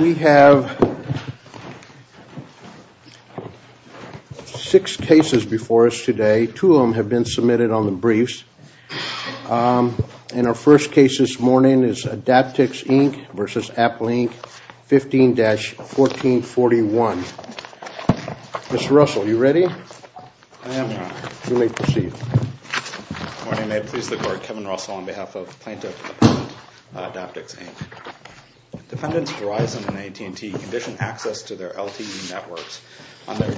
We have six cases before us today. Two of them have been submitted on the briefs. And our first case this morning is Adaptix, Inc. v. Apple Inc., 15-1441. Mr. Russell, are you ready? I am, Your Honor. You may proceed. Good morning. May it please the Court, Kevin Russell on behalf of Plaintiff and Adaptix, Inc. Defendants Verizon and AT&T condition access to their LTE networks on their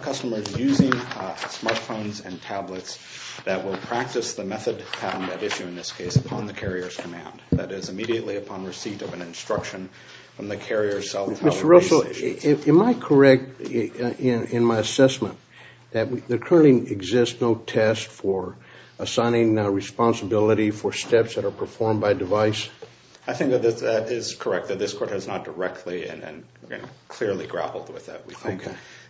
customers using smartphones and tablets that will practice the method pattern at issue in this case upon the carrier's command, that is, immediately upon receipt of an instruction from the carrier's cell tower. Mr. Russell, am I correct in my assessment that there currently exists no test for assigning responsibility for steps that are performed by device? I think that that is correct, that this Court has not directly and clearly grappled with that. We think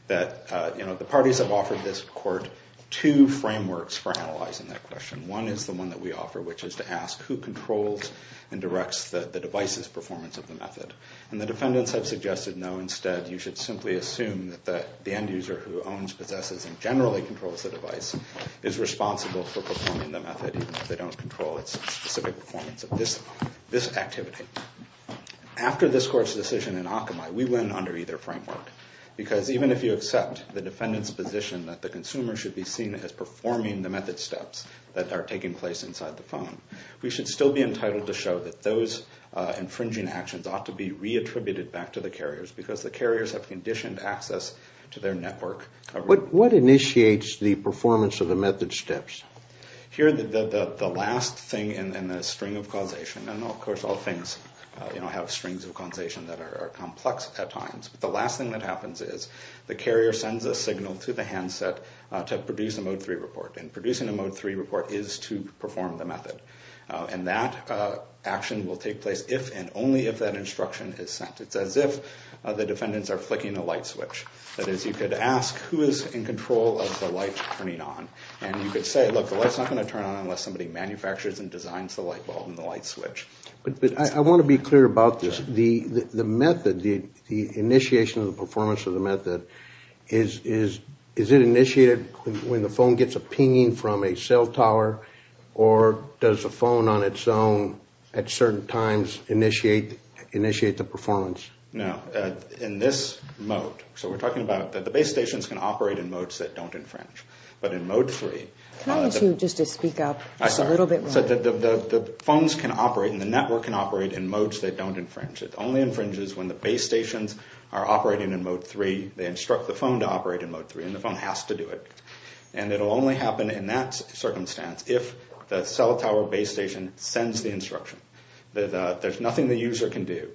that the parties have offered this Court two frameworks for analyzing that question. One is the one that we offer, which is to ask who controls and directs the device's performance of the method. And the defendants have suggested, no, instead you should simply assume that the end user who owns, possesses, and generally controls the device is responsible for performing the method even if they don't control its specific performance of this activity. After this Court's decision in Akamai, we went under either framework because even if you accept the defendant's position that the consumer should be seen as performing the method steps that are taking place inside the phone, we should still be entitled to show that those infringing actions ought to be re-attributed back to the carriers because the carriers have conditioned access to their network. What initiates the performance of the method steps? Here, the last thing in the string of causation, and of course all things have strings of causation that are complex at times, but the last thing that happens is the carrier sends a signal to the handset to produce a Mode 3 report. And producing a Mode 3 report is to perform the method. And that action will take place if and only if that instruction is sent. It's as if the defendants are flicking a light switch. That is, you could ask, who is in control of the light turning on? And you could say, look, the light's not going to turn on unless somebody manufactures and designs the light bulb and the light switch. But I want to be clear about this. The method, the initiation of the performance of the method, is it initiated when the phone gets a pinging from a cell tower? Or does the phone on its own at certain times initiate the performance? No, in this mode. So we're talking about the base stations can operate in modes that don't infringe. But in Mode 3... Can I ask you just to speak up just a little bit more? So the phones can operate and the network can operate in modes that don't infringe. It only infringes when the base stations are operating in Mode 3. They instruct the phone to operate in Mode 3, and the phone has to do it. And it will only happen in that circumstance if the cell tower base station sends the instruction. There's nothing the user can do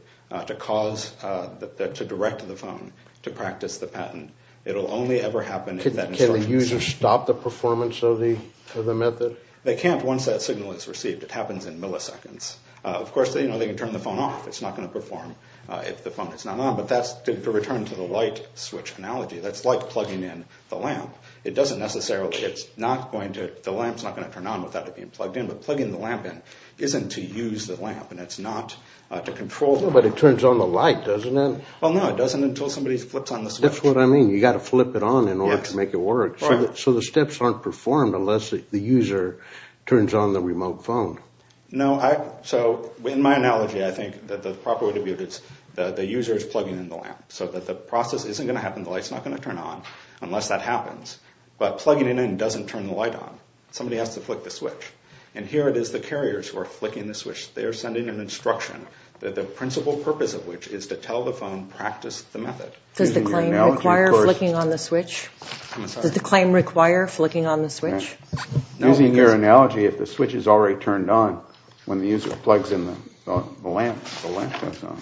to cause, to direct the phone to practice the patent. It will only ever happen if that instruction is sent. Can the user stop the performance of the method? They can't once that signal is received. It happens in milliseconds. Of course, they can turn the phone off. It's not going to perform if the phone is not on. But that's to return to the light switch analogy. That's like plugging in the lamp. It doesn't necessarily... It's not going to... The lamp's not going to turn on without it being plugged in. But plugging the lamp in isn't to use the lamp, and it's not to control the lamp. But it turns on the light, doesn't it? Well, no, it doesn't until somebody flips on the switch. That's what I mean. You've got to flip it on in order to make it work. So the steps aren't performed unless the user turns on the remote phone. No, I... So in my analogy, I think that the proper way to view it is the user is plugging in the lamp. So that the process isn't going to happen. The light's not going to turn on unless that happens. But plugging it in doesn't turn the light on. Somebody has to flick the switch. And here it is the carriers who are flicking the switch. They are sending an instruction, the principal purpose of which is to tell the phone, practice the method. Does the claim require flicking on the switch? I'm sorry? Does the claim require flicking on the switch? Using your analogy, if the switch is already turned on, when the user plugs in the lamp, the lamp turns on.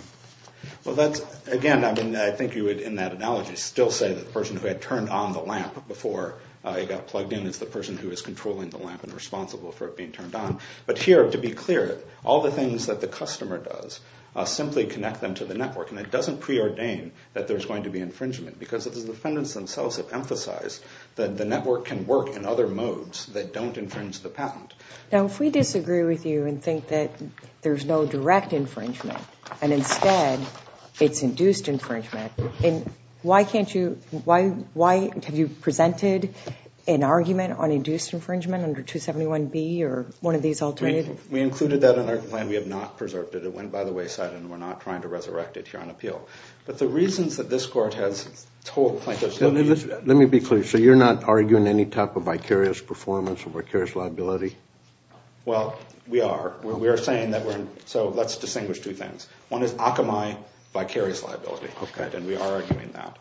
Well, that's... Again, I think you would, in that analogy, still say that the person who had turned on the lamp before it got plugged in is the person who is controlling the lamp and responsible for it being turned on. But here, to be clear, all the things that the customer does simply connect them to the network. And it doesn't preordain that there's going to be infringement. Because the defendants themselves have emphasized that the network can work in other modes that don't infringe the patent. Now, if we disagree with you and think that there's no direct infringement, and instead it's induced infringement, then why can't you... Have you presented an argument on induced infringement under 271B or one of these alternatives? We included that in our claim. We have not preserved it. It went by the wayside, and we're not trying to resurrect it here on appeal. But the reasons that this court has told plaintiffs... Let me be clear. So you're not arguing any type of vicarious performance or vicarious liability? Well, we are. We are saying that we're... So let's distinguish two things. One is Akamai vicarious liability, and we are arguing that.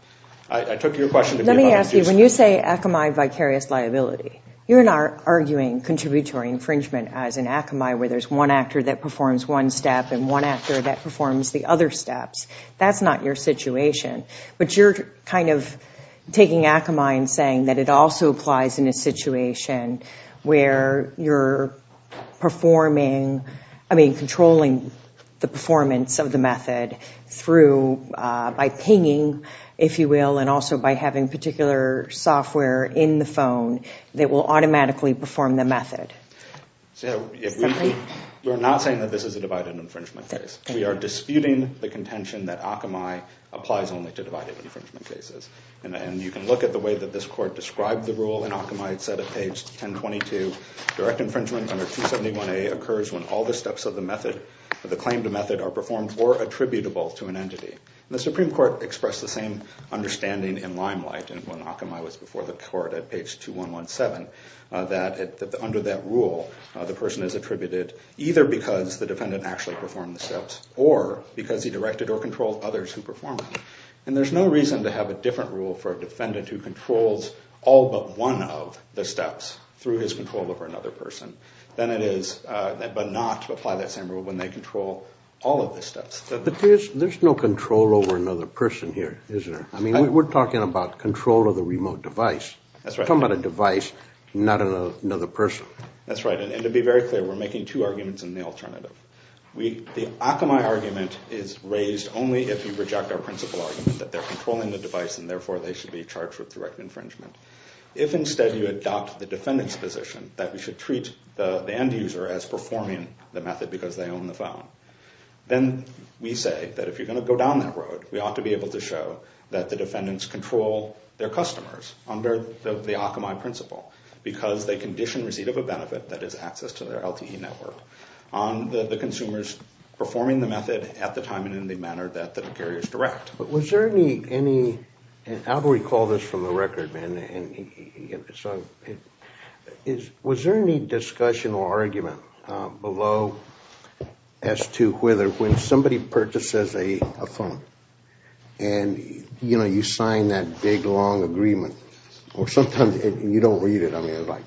I took your question to be about... Let me ask you, when you say Akamai vicarious liability, you're not arguing contributory infringement as an Akamai, where there's one actor that performs one step and one actor that performs the other steps. That's not your situation. But you're kind of taking Akamai and saying that it also applies in a situation where you're controlling the performance of the method by pinging, if you will, and also by having particular software in the phone that will automatically perform the method. So we're not saying that this is a divided infringement case. We are disputing the contention that Akamai applies only to divided infringement cases. And you can look at the way that this court described the rule, and Akamai said at page 1022, direct infringement under 271A occurs when all the steps of the claim to method are performed or attributable to an entity. The Supreme Court expressed the same understanding in limelight when Akamai was before the court at page 2117, that under that rule, the person is attributed either because the defendant actually performed the steps or because he directed or controlled others who performed them. And there's no reason to have a different rule for a defendant who controls all but one of the steps through his control over another person than it is not to apply that same rule when they control all of the steps. But there's no control over another person here, isn't there? I mean, we're talking about control of the remote device. That's right. We're talking about a device, not another person. That's right. And to be very clear, we're making two arguments in the alternative. The Akamai argument is raised only if you reject our principle argument that they're controlling the device and therefore they should be charged with direct infringement. If instead you adopt the defendant's position that we should treat the end user as performing the method because they own the phone, then we say that if you're going to go down that road, we ought to be able to show that the defendants control their customers under the Akamai principle because they condition receipt of a benefit that is access to their LTE network on the consumers performing the method at the time and in the manner that the carriers direct. But was there any, and I'll recall this from the record, man, was there any discussion or argument below as to whether when somebody purchases a phone and, you know, you sign that big long agreement or sometimes you don't read it, I mean, like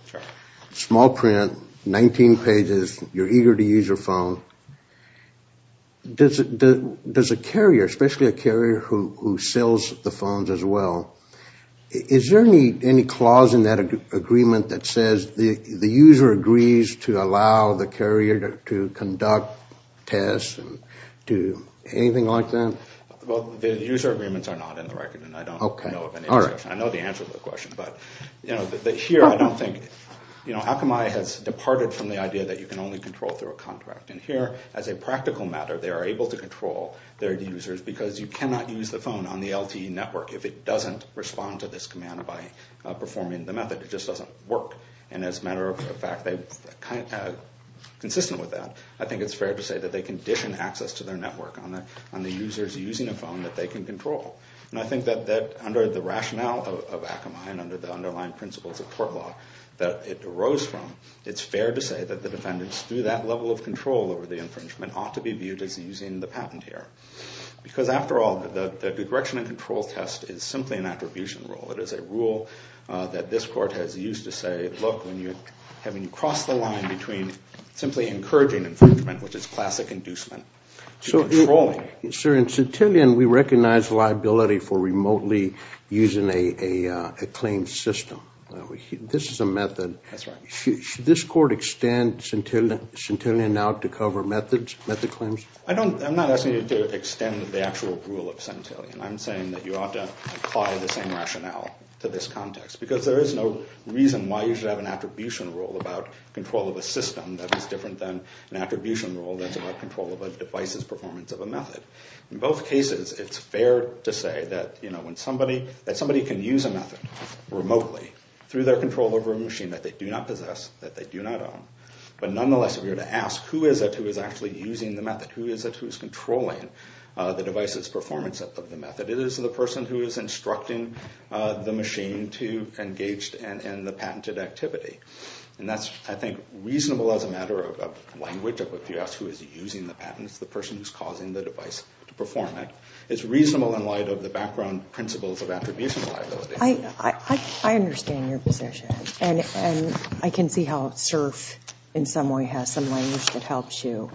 small print, 19 pages, you're eager to use your phone, does a carrier, especially a carrier who sells the phones as well, is there any clause in that agreement that says the user agrees to allow the carrier to conduct tests, anything like that? Well, the user agreements are not in the record and I don't know of any discussion. I know the answer to the question, but here I don't think, you know, Akamai has departed from the idea that you can only control through a contract and here, as a practical matter, they are able to control their users because you cannot use the phone on the LTE network if it doesn't respond to this command by performing the method. It just doesn't work and as a matter of fact, consistent with that, I think it's fair to say that they condition access to their network on the users using a phone that they can control. And I think that under the rationale of Akamai and under the underlying principles of court law that it arose from, it's fair to say that the defendants, through that level of control over the infringement, ought to be viewed as using the patent here. Because after all, the direction and control test is simply an attribution rule. It is a rule that this court has used to say, look, when you cross the line between simply encouraging infringement, which is classic inducement, to controlling. Sir, in Centillion, we recognize liability for remotely using a claim system. This is a method. That's right. Should this court extend Centillion out to cover method claims? I'm not asking you to extend the actual rule of Centillion. I'm saying that you ought to apply the same rationale to this context because there is no reason why you should have an attribution rule about control of a system that is different than an attribution rule that's about control of a device's performance of a method. In both cases, it's fair to say that somebody can use a method remotely through their control over a machine that they do not possess, that they do not own. But nonetheless, if you were to ask who is it who is actually using the method, who is it who is controlling the device's performance of the method, it is the person who is instructing the machine to engage in the patented activity. And that's, I think, reasonable as a matter of language. If you ask who is using the patent, it's the person who is causing the device to perform it. It's reasonable in light of the background principles of attribution liability. I understand your position. And I can see how SIRF in some way has some language that helps you.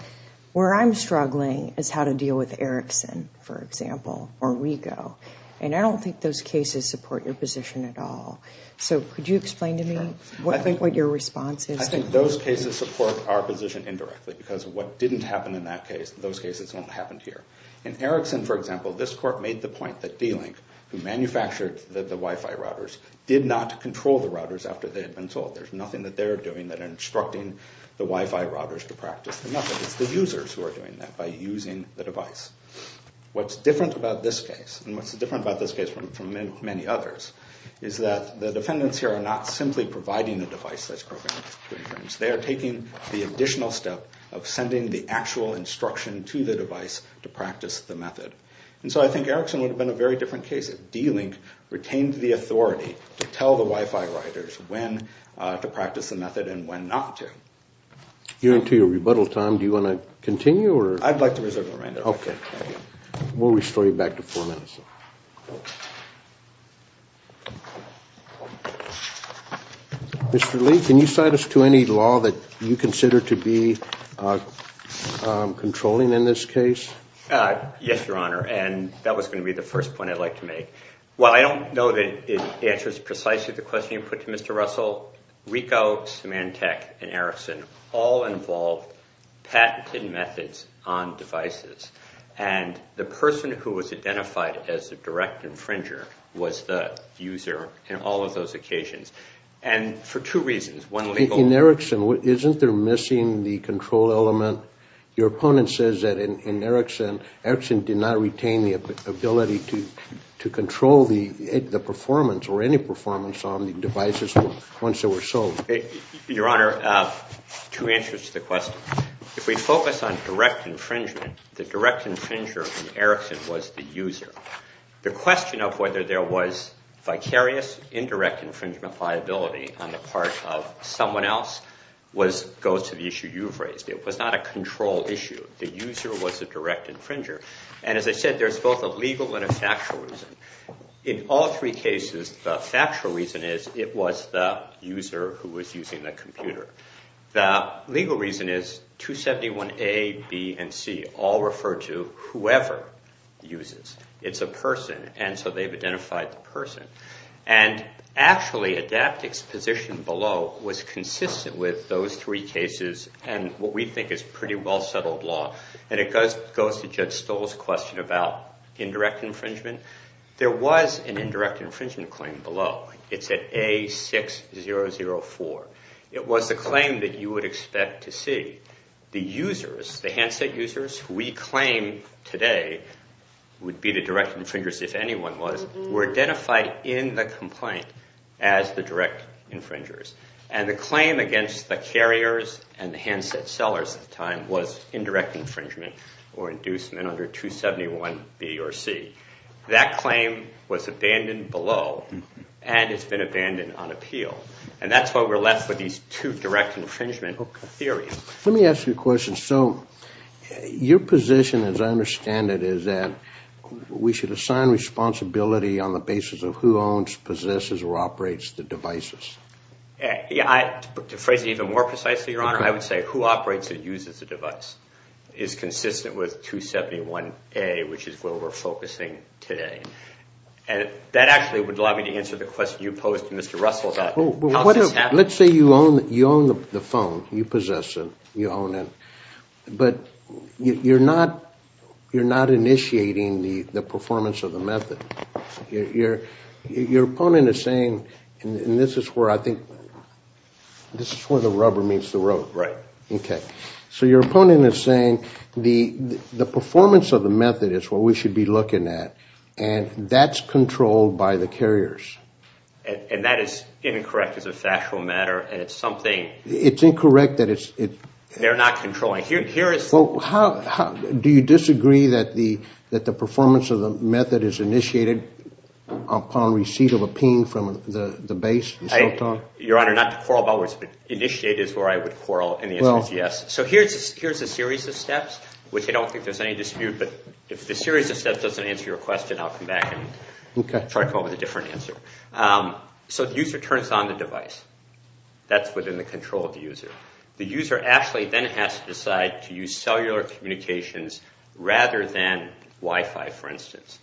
Where I'm struggling is how to deal with Erickson, for example, or RICO. And I don't think those cases support your position at all. So could you explain to me what your response is? I think those cases support our position indirectly because what didn't happen in that case, those cases won't happen here. In Erickson, for example, this court made the point that D-Link, who manufactured the Wi-Fi routers, did not control the routers after they had been sold. There's nothing that they're doing that are instructing the Wi-Fi routers to practice the method. It's the users who are doing that by using the device. What's different about this case, and what's different about this case from many others, is that the defendants here are not simply providing the device that's programmed to infringe. They are taking the additional step of sending the actual instruction to the device to practice the method. And so I think Erickson would have been a very different case if D-Link retained the authority to tell the Wi-Fi routers when to practice the method and when not to. You're into your rebuttal time. Do you want to continue? We'll restore you back to four minutes. Mr. Lee, can you cite us to any law that you consider to be controlling in this case? Yes, Your Honor, and that was going to be the first point I'd like to make. While I don't know that it answers precisely the question you put to Mr. Russell, RICO, Symantec, and Erickson all involved patented methods on devices. And the person who was identified as the direct infringer was the user in all of those occasions. And for two reasons. In Erickson, isn't there missing the control element? Your opponent says that in Erickson, Erickson did not retain the ability to control the performance or any performance on the devices once they were sold. Your Honor, two answers to the question. If we focus on direct infringement, the direct infringer in Erickson was the user. The question of whether there was vicarious indirect infringement liability on the part of someone else goes to the issue you've raised. It was not a control issue. The user was the direct infringer. And as I said, there's both a legal and a factual reason. In all three cases, the factual reason is it was the user who was using the computer. The legal reason is 271A, B, and C all refer to whoever uses. It's a person, and so they've identified the person. And actually, Adaptic's position below was consistent with those three cases and what we think is pretty well-settled law. And it goes to Judge Stoll's question about indirect infringement. There was an indirect infringement claim below. It's at A6004. It was the claim that you would expect to see. The users, the handset users, who we claim today would be the direct infringers if anyone was, were identified in the complaint as the direct infringers. And the claim against the carriers and the handset sellers at the time was indirect infringement or inducement under 271B or C. That claim was abandoned below, and it's been abandoned on appeal. And that's why we're left with these two direct infringement theories. Let me ask you a question. So your position, as I understand it, is that we should assign responsibility on the basis of who owns, possesses, or operates the devices. To phrase it even more precisely, Your Honor, I would say who operates or uses the device is consistent with 271A, which is where we're focusing today. And that actually would allow me to answer the question you posed to Mr. Russell about how this happens. Let's say you own the phone. You possess it. You own it. But you're not initiating the performance of the method. Your opponent is saying, and this is where I think, this is where the rubber meets the road. Right. Okay. So your opponent is saying the performance of the method is what we should be looking at, and that's controlled by the carriers. And that is incorrect as a factual matter, and it's something— It's incorrect that it's— They're not controlling. Well, do you disagree that the performance of the method is initiated upon receipt of a ping from the base and so forth? Your Honor, not to quarrel about words, but initiate is where I would quarrel, and the answer is yes. So here's a series of steps, which I don't think there's any dispute, but if the series of steps doesn't answer your question, I'll come back and try to come up with a different answer. So the user turns on the device. That's within the control of the user. The user actually then has to decide to use cellular communications rather than Wi-Fi, for instance.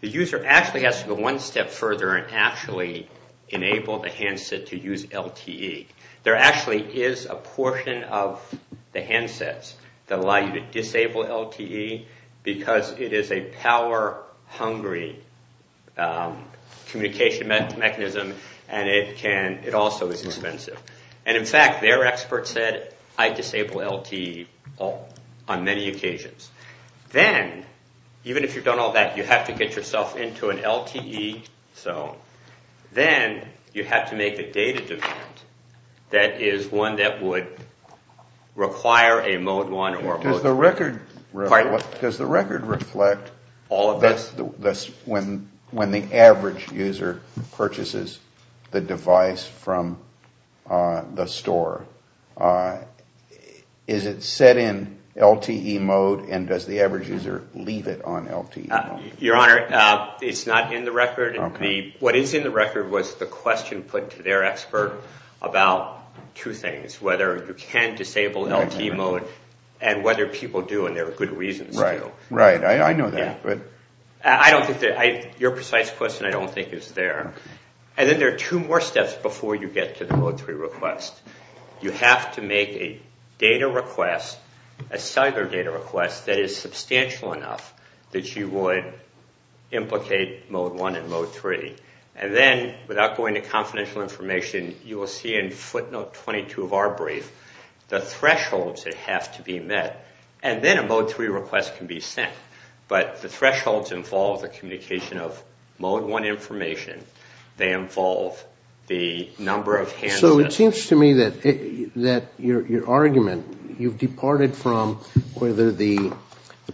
The user actually has to go one step further and actually enable the handset to use LTE. There actually is a portion of the handsets that allow you to disable LTE because it is a power-hungry communication mechanism, and it also is expensive. And in fact, their expert said, I disable LTE on many occasions. Then, even if you've done all that, you have to get yourself into an LTE. Then you have to make a data demand that is one that would require a Mode 1 or a Mode 2. Does the record reflect when the average user purchases the device from the store? Is it set in LTE mode, and does the average user leave it on LTE mode? Your Honor, it's not in the record. What is in the record was the question put to their expert about two things, whether you can disable LTE mode and whether people do, and there are good reasons to. Right, I know that. Your precise question I don't think is there. And then there are two more steps before you get to the Mode 3 request. You have to make a data request, a cellular data request, that is substantial enough that you would implicate Mode 1 and Mode 3. And then, without going to confidential information, you will see in footnote 22 of our brief the thresholds that have to be met, and then a Mode 3 request can be sent. But the thresholds involve the communication of Mode 1 information. They involve the number of handsets. So it seems to me that your argument, you've departed from whether the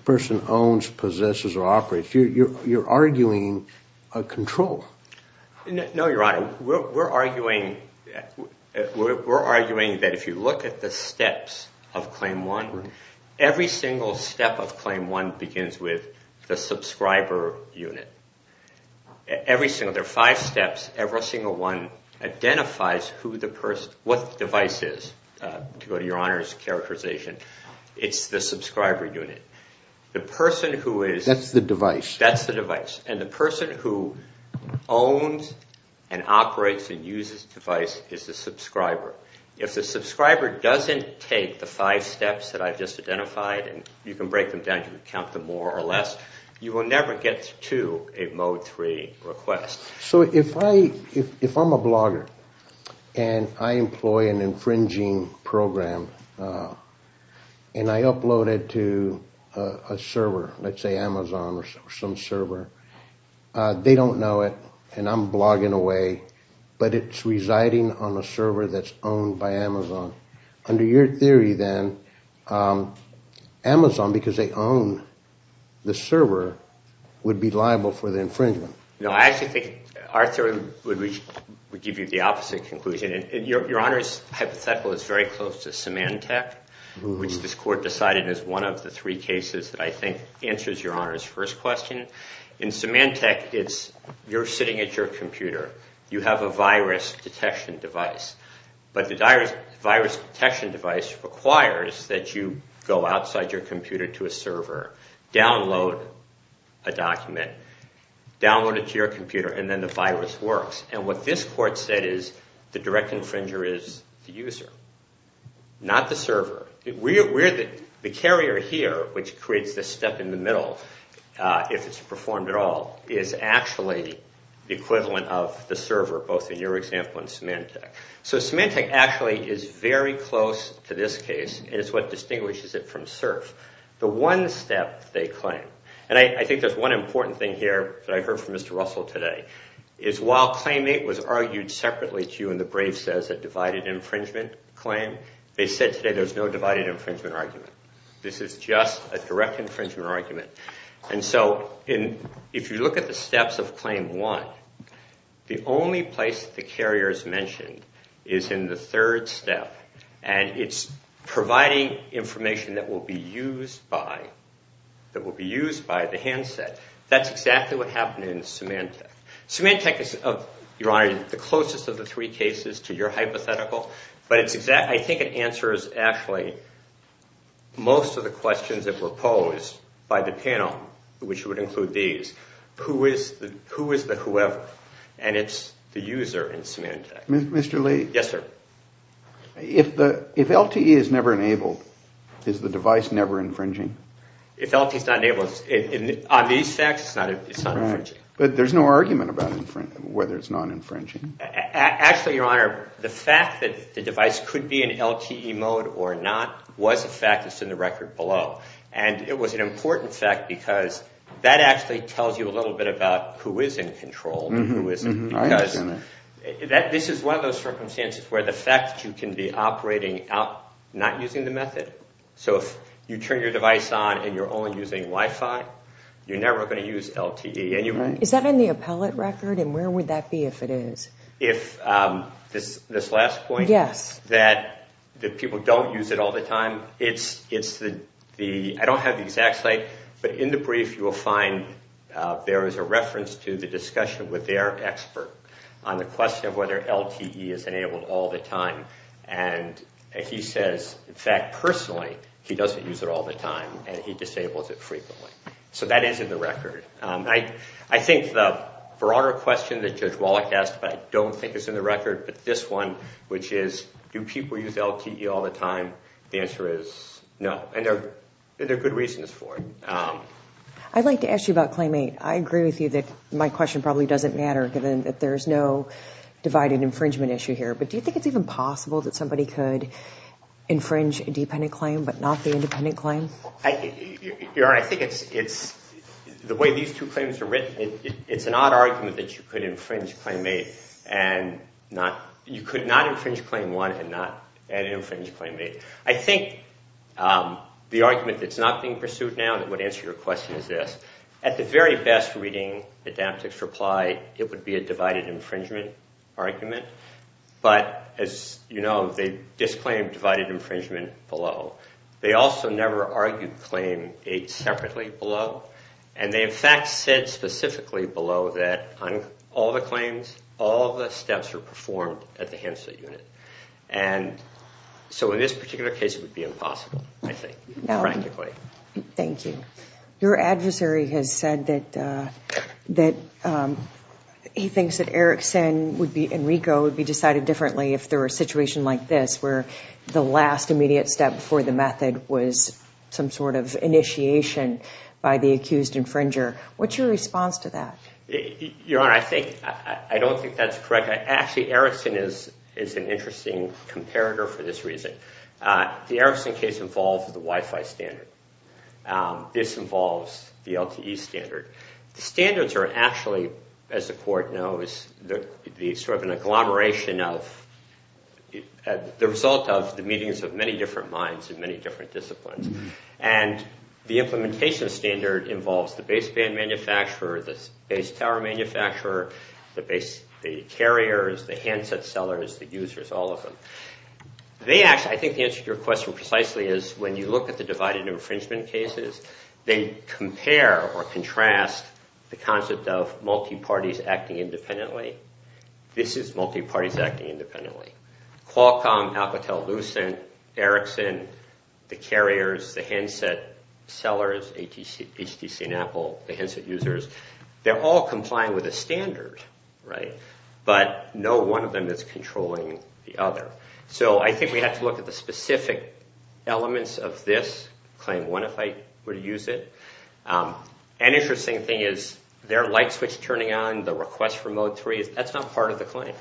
person owns, possesses, or operates. You're arguing a control. No, Your Honor. We're arguing that if you look at the steps of Claim 1, every single step of Claim 1 begins with the subscriber unit. Every single one. There are five steps. Every single one identifies what the device is. To go to Your Honor's characterization, it's the subscriber unit. That's the device. That's the device. And the person who owns and operates and uses the device is the subscriber. If the subscriber doesn't take the five steps that I've just identified, and you can break them down, you can count them more or less, you will never get to a Mode 3 request. So if I'm a blogger and I employ an infringing program, and I upload it to a server, let's say Amazon or some server, they don't know it and I'm blogging away, but it's residing on a server that's owned by Amazon. Under your theory then, Amazon, because they own the server, would be liable for the infringement. No, I actually think our theory would give you the opposite conclusion. Your Honor's hypothetical is very close to Symantec, which this Court decided is one of the three cases that I think answers Your Honor's first question. In Symantec, you're sitting at your computer. You have a virus detection device. But the virus detection device requires that you go outside your computer to a server, download a document, download it to your computer, and then the virus works. And what this Court said is the direct infringer is the user, not the server. The carrier here, which creates this step in the middle, if it's performed at all, is actually the equivalent of the server, both in your example and Symantec. So Symantec actually is very close to this case. It's what distinguishes it from CERF. The one step they claim, and I think there's one important thing here that I heard from Mr. Russell today, is while Claim 8 was argued separately to you in the Braves' divided infringement claim, they said today there's no divided infringement argument. This is just a direct infringement argument. And so if you look at the steps of Claim 1, the only place that the carrier is mentioned is in the third step, and it's providing information that will be used by the handset. That's exactly what happened in Symantec. Symantec is, Your Honor, the closest of the three cases to your hypothetical, but I think it answers actually most of the questions that were posed by the panel, which would include these. Who is the whoever? And it's the user in Symantec. Mr. Lee? Yes, sir. If LTE is never enabled, is the device never infringing? If LTE is not enabled, on these facts, it's not infringing. But there's no argument about whether it's not infringing. Actually, Your Honor, the fact that the device could be in LTE mode or not was a fact that's in the record below, and it was an important fact because that actually tells you a little bit about who is in control and who isn't because this is one of those circumstances where the fact that you can be operating out not using the method. So if you turn your device on and you're only using Wi-Fi, you're never going to use LTE. Is that in the appellate record, and where would that be if it is? This last point? Yes. That people don't use it all the time? I don't have the exact site, but in the brief you will find there is a reference to the discussion with their expert on the question of whether LTE is enabled all the time, and he says, in fact, personally, he doesn't use it all the time, and he disables it frequently. So that is in the record. I think the broader question that Judge Wallach asked, but I don't think it's in the record, but this one, which is do people use LTE all the time, the answer is no, and there are good reasons for it. I'd like to ask you about Claim 8. I agree with you that my question probably doesn't matter given that there is no divided infringement issue here, but do you think it's even possible that somebody could infringe a dependent claim but not the independent claim? Your Honor, I think the way these two claims are written, it's an odd argument that you could not infringe Claim 1 and not infringe Claim 8. I think the argument that's not being pursued now that would answer your question is this. At the very best reading, Adaptive's reply, it would be a divided infringement argument, but as you know, they disclaim divided infringement below. They also never argued Claim 8 separately below, and they in fact said specifically below that on all the claims, all the steps are performed at the Henslet Unit. And so in this particular case, it would be impossible, I think, practically. Thank you. Your adversary has said that he thinks that Erickson and Rico would be decided differently if there were a situation like this where the last immediate step for the method was some sort of initiation by the accused infringer. What's your response to that? Your Honor, I don't think that's correct. Actually, Erickson is an interesting comparator for this reason. The Erickson case involves the Wi-Fi standard. This involves the LTE standard. The standards are actually, as the Court knows, sort of an agglomeration of the result of the meetings of many different minds in many different disciplines. And the implementation standard involves the baseband manufacturer, the base tower manufacturer, the carriers, the handset sellers, the users, all of them. I think the answer to your question precisely is when you look at the divided infringement cases, they compare or contrast the concept of multi-parties acting independently. This is multi-parties acting independently. Qualcomm, Alcatel-Lucent, Erickson, the carriers, the handset sellers, HTC and Apple, the handset users, they're all complying with the standard, right? But no one of them is controlling the other. So I think we have to look at the specific elements of this claim. One, if I were to use it, an interesting thing is their light switch turning on, the request for mode 3, that's not part of the claim,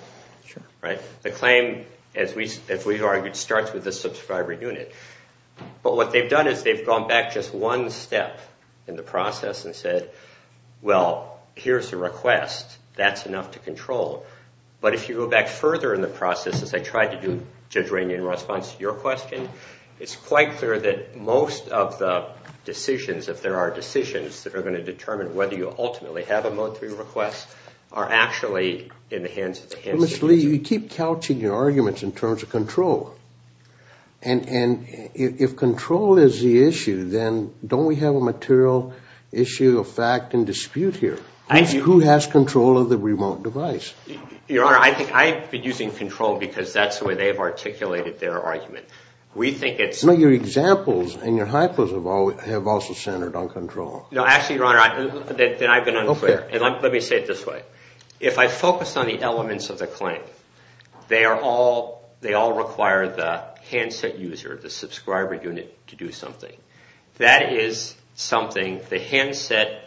right? The claim, as we've argued, starts with the subscriber unit. But what they've done is they've gone back just one step in the process and said, well, here's the request. That's enough to control. But if you go back further in the process, as I tried to do, Judge Rainey, in response to your question, it's quite clear that most of the decisions, if there are decisions that are going to determine whether you ultimately have a mode 3 request, are actually in the hands of the handset user. Mr. Lee, you keep couching your arguments in terms of control. And if control is the issue, then don't we have a material issue of fact and dispute here? Who has control of the remote device? Your Honor, I think I've been using control because that's the way they've articulated their argument. We think it's- No, your examples and your hypos have also centered on control. No, actually, Your Honor, then I've been unclear. Okay. Let me say it this way. If I focus on the elements of the claim, they all require the handset user, the subscriber unit, to do something. That is something the handset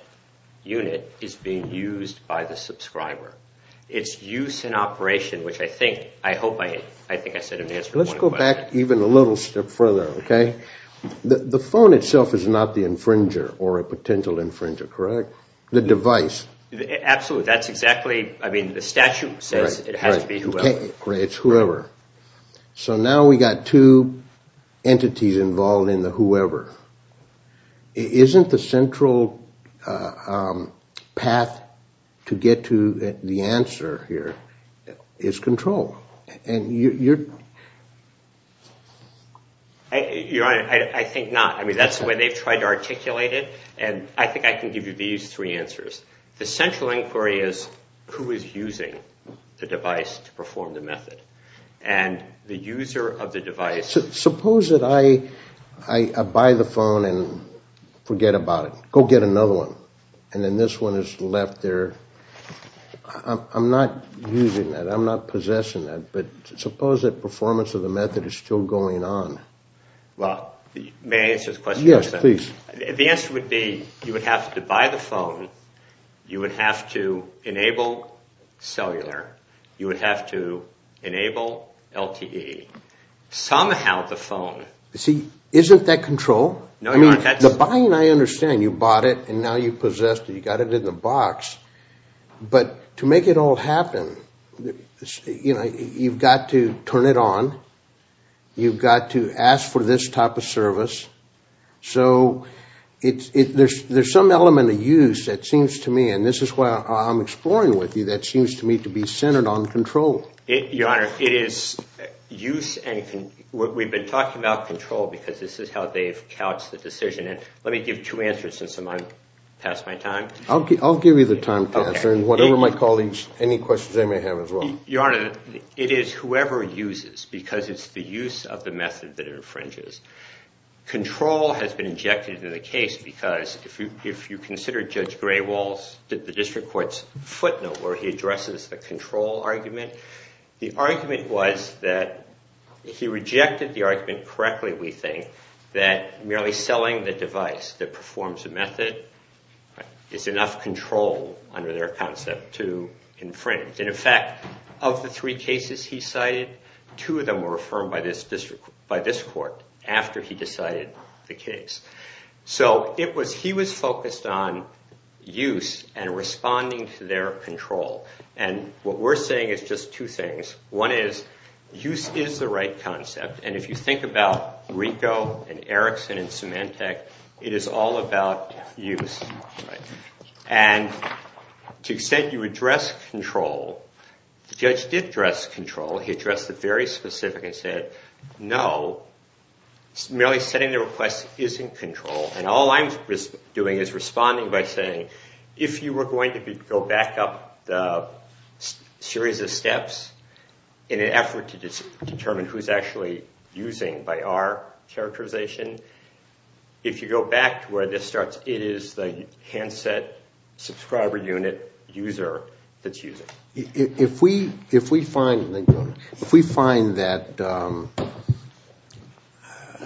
unit is being used by the subscriber. It's use and operation, which I think I said in answer to one of the questions. Let's go back even a little step further, okay? The phone itself is not the infringer or a potential infringer, correct? The device. Absolutely. That's exactly- I mean, the statute says it has to be whoever. Right. It's whoever. So now we've got two entities involved in the whoever. Isn't the central path to get to the answer here is control? Your Honor, I think not. I mean, that's the way they've tried to articulate it, and I think I can give you these three answers. The central inquiry is who is using the device to perform the method, and the user of the device- Suppose that I buy the phone and forget about it, go get another one, and then this one is left there. I'm not using that. I'm not possessing that. But suppose that performance of the method is still going on. May I answer the question? Yes, please. The answer would be you would have to buy the phone, you would have to enable cellular, you would have to enable LTE. Somehow the phone- See, isn't that control? No, Your Honor, that's- The buying, I understand. You bought it, and now you possessed it. You got it in the box. But to make it all happen, you've got to turn it on. You've got to ask for this type of service. So there's some element of use that seems to me, and this is what I'm exploring with you, that seems to me to be centered on control. Your Honor, it is use and- We've been talking about control because this is how they've couched the decision. Let me give two answers since I'm past my time. I'll give you the time, Pastor, and whatever my colleagues, any questions they may have as well. Your Honor, it is whoever uses because it's the use of the method that infringes. Control has been injected into the case because if you consider Judge Graywall's, the district court's footnote where he addresses the control argument, the argument was that he rejected the argument correctly, we think, that merely selling the device that performs a method is enough control under their concept to infringe. And in fact, of the three cases he cited, two of them were affirmed by this court after he decided the case. So he was focused on use and responding to their control. And what we're saying is just two things. One is use is the right concept, and if you think about Rico and Erickson and Symantec, it is all about use. And to the extent you address control, the judge did address control. He addressed it very specific and said, no, merely setting the request isn't control, and all I'm doing is responding by saying if you were going to go back up the series of steps in an effort to determine who's actually using by our characterization, if you go back to where this starts, it is the handset subscriber unit user that's using. If we find that,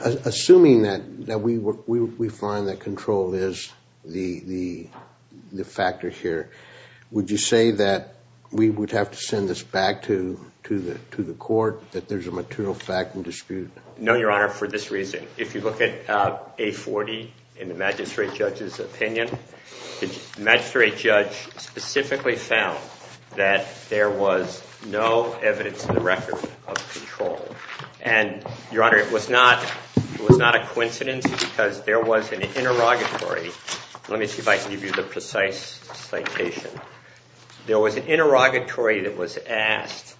assuming that we find that control is the factor here, would you say that we would have to send this back to the court, that there's a material fact and dispute? No, Your Honor, for this reason. If you look at A40 in the magistrate judge's opinion, the magistrate judge specifically found that there was no evidence in the record of control. And, Your Honor, it was not a coincidence because there was an interrogatory. Let me see if I can give you the precise citation. There was an interrogatory that was asked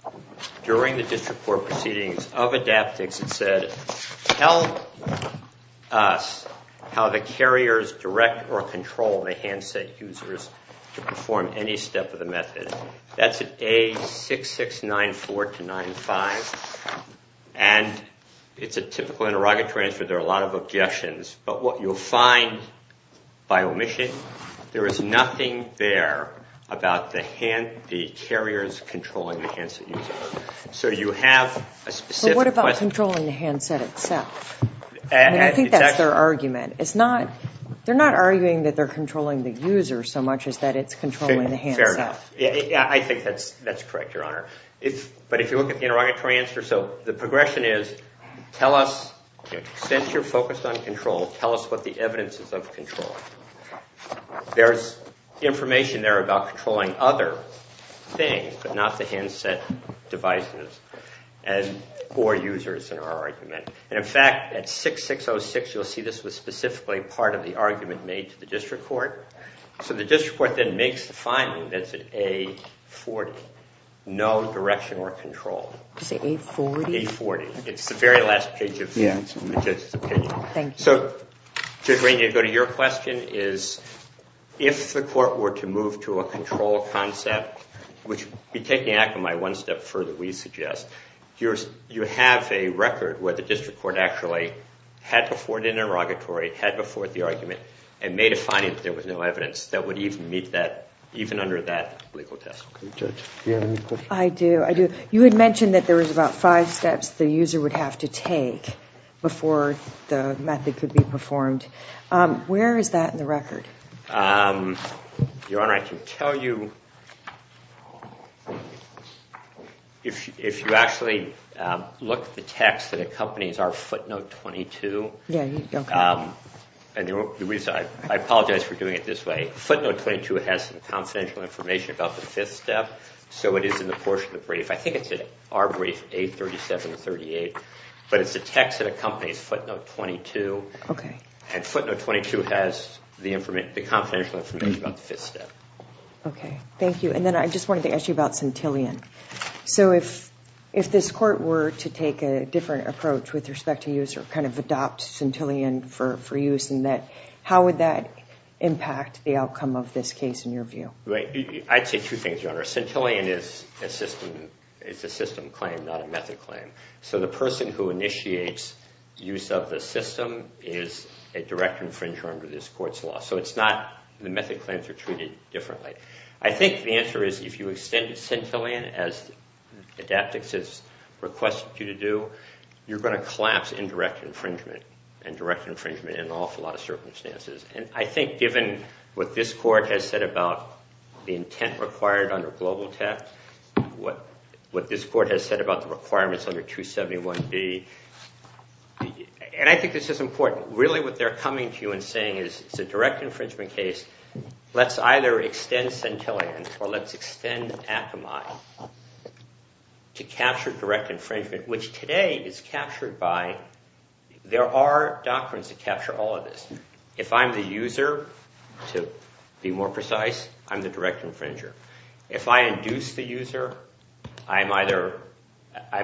during the district court proceedings of Adaptex that said, tell us how the carriers direct or control the handset users to perform any step of the method. That's at A6694-95, and it's a typical interrogatory answer. There are a lot of objections. But what you'll find, by omission, there is nothing there about the carriers controlling the handset users. So you have a specific question. But what about controlling the handset itself? And I think that's their argument. They're not arguing that they're controlling the user so much as that it's controlling the handset. Fair enough. I think that's correct, Your Honor. But if you look at the interrogatory answer, so the progression is, tell us, since you're focused on control, tell us what the evidence is of control. There's information there about controlling other things, but not the handset devices or users in our argument. And in fact, at 6606, you'll see this was specifically part of the argument made to the district court. So the district court then makes the finding that's at A40, no direction or control. Did you say A40? A40. It's the very last page of the judge's opinion. Thank you. So, Judge Rainey, to go to your question, is if the court were to move to a control concept, which would be taking Akamai one step further, we suggest, you have a record where the district court actually had before the interrogatory, had before the argument, and made a finding that there was no evidence that would even meet that, even under that legal test. Judge, do you have any questions? I do, I do. You had mentioned that there was about five steps the user would have to take before the method could be performed. Where is that in the record? Your Honor, I can tell you, if you actually look at the text that accompanies our footnote 22, I apologize for doing it this way. Footnote 22 has some confidential information about the fifth step. So it is in the portion of the brief. I think it's in our brief, A3738. But it's the text that accompanies footnote 22. OK. And footnote 22 has the confidential information about the fifth step. OK. Thank you. And then I just wanted to ask you about centillion. So if this court were to take a different approach with respect to user, kind of adopt centillion for use in that, how would that impact the outcome of this case in your view? Right. I'd say two things, Your Honor. Centillion is a system claim, not a method claim. So the person who initiates use of the system is a direct infringer under this court's law. So it's not the method claims are treated differently. I think the answer is if you extend centillion, as Adaptex has requested you to do, you're going to collapse in direct infringement, and direct infringement in an awful lot of circumstances. And I think given what this court has what this court has said about the requirements under 271B, and I think this is important, really what they're coming to you and saying is it's a direct infringement case. Let's either extend centillion or let's extend Akamai to capture direct infringement, which today is captured by, there are doctrines that capture all of this. If I'm the user, to be more precise, I'm the direct infringer. If I induce the user, I'm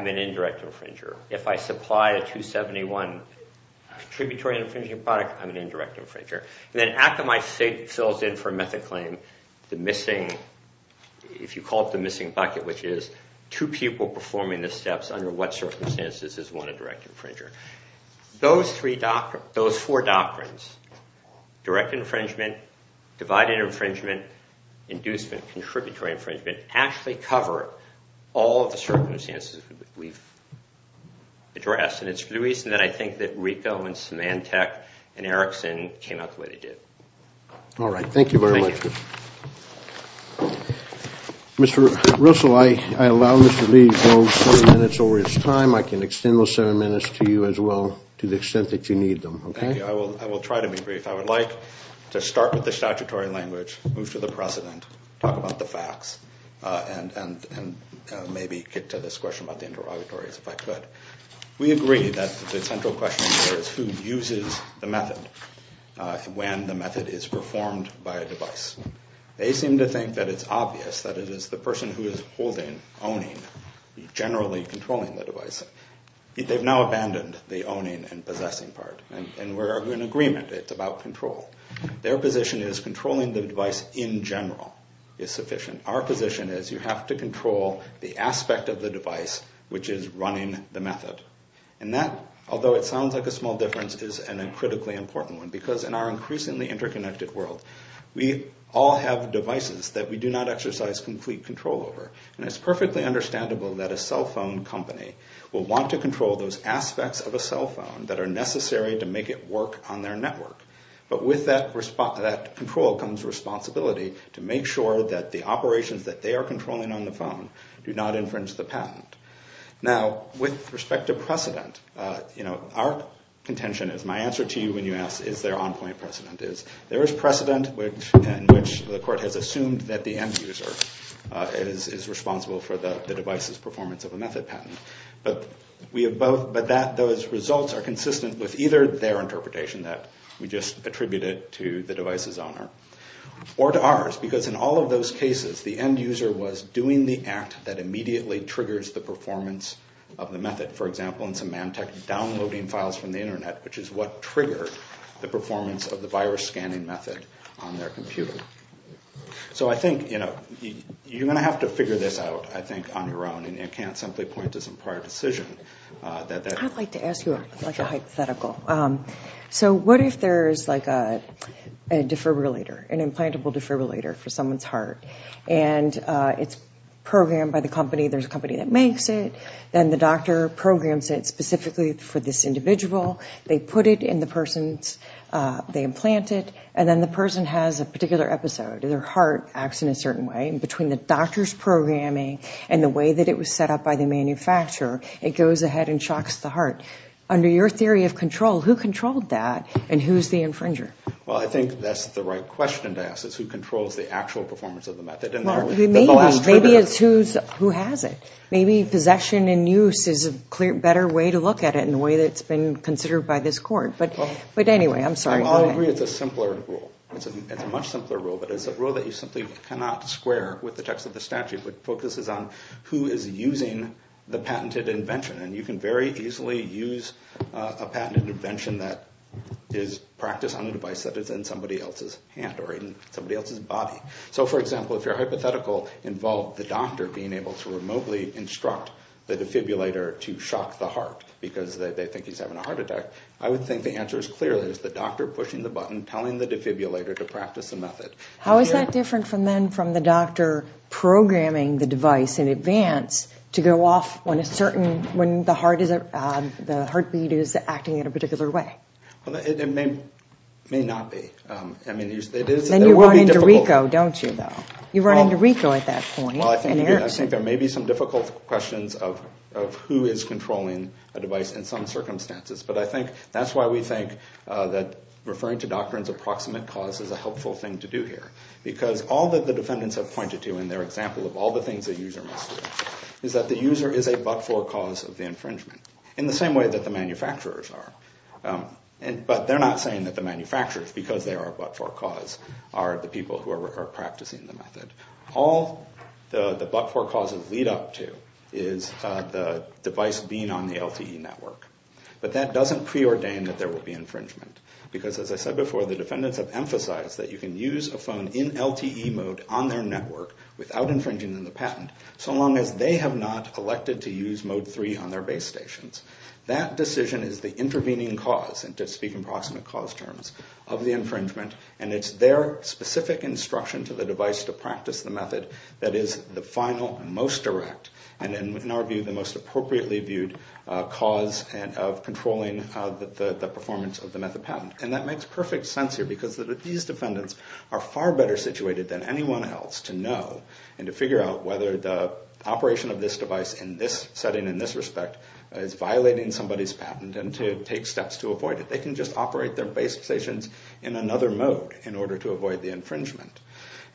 an indirect infringer. If I supply a 271 tributary infringing product, I'm an indirect infringer. And then Akamai fills in for method claim the missing, if you call it the missing bucket, which is two people performing the steps under what circumstances is one a direct infringer. Those four doctrines, direct infringement, divided infringement, inducement, contributory infringement, actually cover all of the circumstances we've addressed. And it's the reason that I think that Rico and Symantec and Erickson came out the way they did. All right. Thank you very much. Thank you. Mr. Russell, I allow Mr. Lee those seven minutes over his time. I can extend those seven minutes to you as well to the extent that you need them. Thank you. I will try to be brief. I would like to start with the statutory language, move to the precedent, talk about the facts, and maybe get to this question about the interrogatories if I could. We agree that the central question here is who uses the method when the method is performed by a device. They seem to think that it's obvious that it is the person who is holding, owning, generally controlling the device. They've now abandoned the owning and possessing part. And we're in agreement. It's about control. Their position is controlling the device in general is sufficient. Our position is you have to control the aspect of the device which is running the method. And that, although it sounds like a small difference, is a critically important one. Because in our increasingly interconnected world, we all have devices that we do not exercise complete control over. And it's perfectly understandable that a cell phone company will want to control those aspects of a cell phone that are necessary to make it work on their network. But with that control comes responsibility to make sure that the operations that they are controlling on the phone do not infringe the patent. Now, with respect to precedent, our contention is my answer to you when you ask is there on-point precedent is there is precedent in which the court has assumed that the end user is responsible for the device's performance of a method patent. But those results are consistent with either their interpretation that we just attributed to the device's owner or to ours. Because in all of those cases, the end user was doing the act that immediately triggers the performance of the method. For example, in some Mantech downloading files from the internet, which is what triggered the performance of the virus scanning method on their computer. So I think you're going to have to figure this out, I think, on your own. And I can't simply point to some prior decision. I'd like to ask you a hypothetical. So what if there is a defibrillator, an implantable defibrillator for someone's heart, and it's programmed by the company. There's a company that makes it. Then the doctor programs it specifically for this individual. They put it in the person's, they implant it, and then the person has a particular episode. Their heart acts in a certain way. And between the doctor's programming and the way that it was set up by the manufacturer, it goes ahead and shocks the heart. Under your theory of control, who controlled that, and who's the infringer? Well, I think that's the right question to ask, is who controls the actual performance of the method. Maybe it's who has it. Maybe possession and use is a better way to look at it in the way that's been considered by this court. But anyway, I'm sorry. Well, I agree it's a simpler rule. It's a much simpler rule, but it's a rule that you simply cannot square with the text of the statute, which focuses on who is using the patented invention. And you can very easily use a patented invention that is practiced on a device that is in somebody else's hand or in somebody else's body. So, for example, if your hypothetical involved the doctor being able to remotely instruct the defibrillator to shock the heart because they think he's having a heart attack, I would think the answer is clear. It's the doctor pushing the button, telling the defibrillator to practice the method. How is that different from then from the doctor programming the device in advance to go off when the heartbeat is acting in a particular way? It may not be. Then you run into Rico, don't you, though? You run into Rico at that point. I think there may be some difficult questions of who is controlling a device in some circumstances. But I think that's why we think that referring to doctrines of approximate cause is a helpful thing to do here. Because all that the defendants have pointed to in their example of all the things a user must do is that the user is a but-for cause of the infringement, in the same way that the manufacturers are. But they're not saying that the manufacturers, because they are a but-for cause, are the people who are practicing the method. All the but-for causes lead up to is the device being on the LTE network. But that doesn't preordain that there will be infringement. Because, as I said before, the defendants have emphasized that you can use a phone in LTE mode on their network without infringing on the patent, so long as they have not elected to use mode 3 on their base stations. That decision is the intervening cause, and to speak in approximate cause terms, of the infringement. And it's their specific instruction to the device to practice the method that is the final and most direct, and in our view, the most appropriately viewed cause of controlling the performance of the method patent. And that makes perfect sense here, because these defendants are far better situated than anyone else to know and to figure out whether the operation of this device in this setting, in this respect, is violating somebody's patent, and to take steps to avoid it. They can just operate their base stations in another mode in order to avoid the infringement.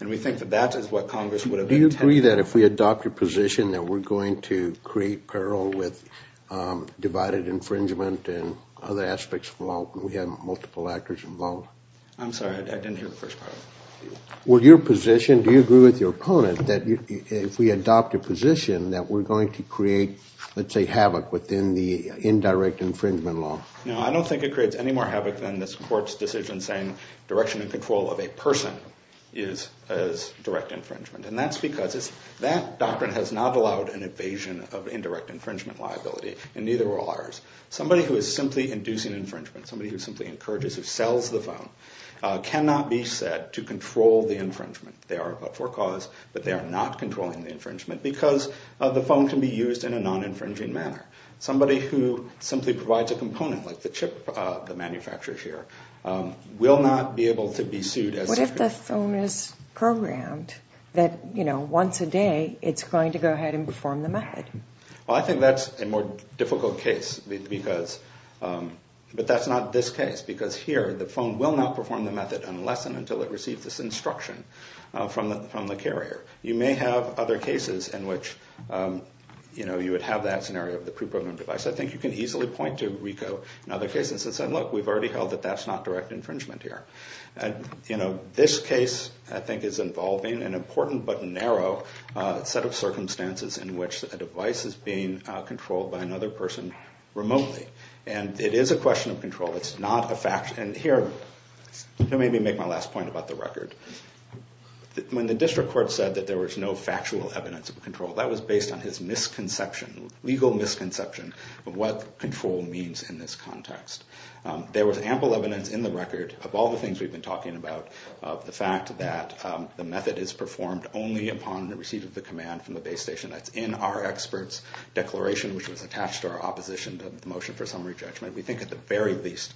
And we think that that is what Congress would have intended. Do you agree that if we adopt a position that we're going to create peril with divided infringement and other aspects of law when we have multiple actors involved? I'm sorry, I didn't hear the first part. Well, your position, do you agree with your opponent that if we adopt a position that we're going to create, let's say, havoc within the indirect infringement law? No, I don't think it creates any more havoc than this court's decision saying direction and control of a person is as direct infringement. And that's because that doctrine has not allowed an evasion of indirect infringement liability, and neither will ours. Somebody who is simply inducing infringement, somebody who simply encourages or sells the phone, cannot be said to control the infringement. They are for cause, but they are not controlling the infringement because the phone can be used in a non-infringing manner. Somebody who simply provides a component like the chip the manufacturer here will not be able to be sued. What if the phone is programmed that once a day it's going to go ahead and perform the method? I think that's a more difficult case, but that's not this case because here the phone will not perform the method unless and until it receives this instruction from the carrier. You may have other cases in which you would have that scenario of the pre-programmed device. I think you can easily point to RICO in other cases and say, look, we've already held that that's not direct infringement here. This case, I think, is involving an important but narrow set of circumstances in which a device is being controlled by another person remotely, and it is a question of control. It's not a fact. Here, let me make my last point about the record. When the district court said that there was no factual evidence of control, that was based on his misconception, legal misconception, of what control means in this context. There was ample evidence in the record of all the things we've been talking about, of the fact that the method is performed only upon receipt of the command from the base station. That's in our expert's declaration, which was attached to our opposition to the motion for summary judgment. We think at the very least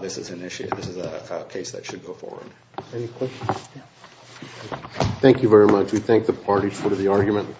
this is an issue, this is a case that should go forward. Any questions? Thank you very much. We thank the parties for the argument.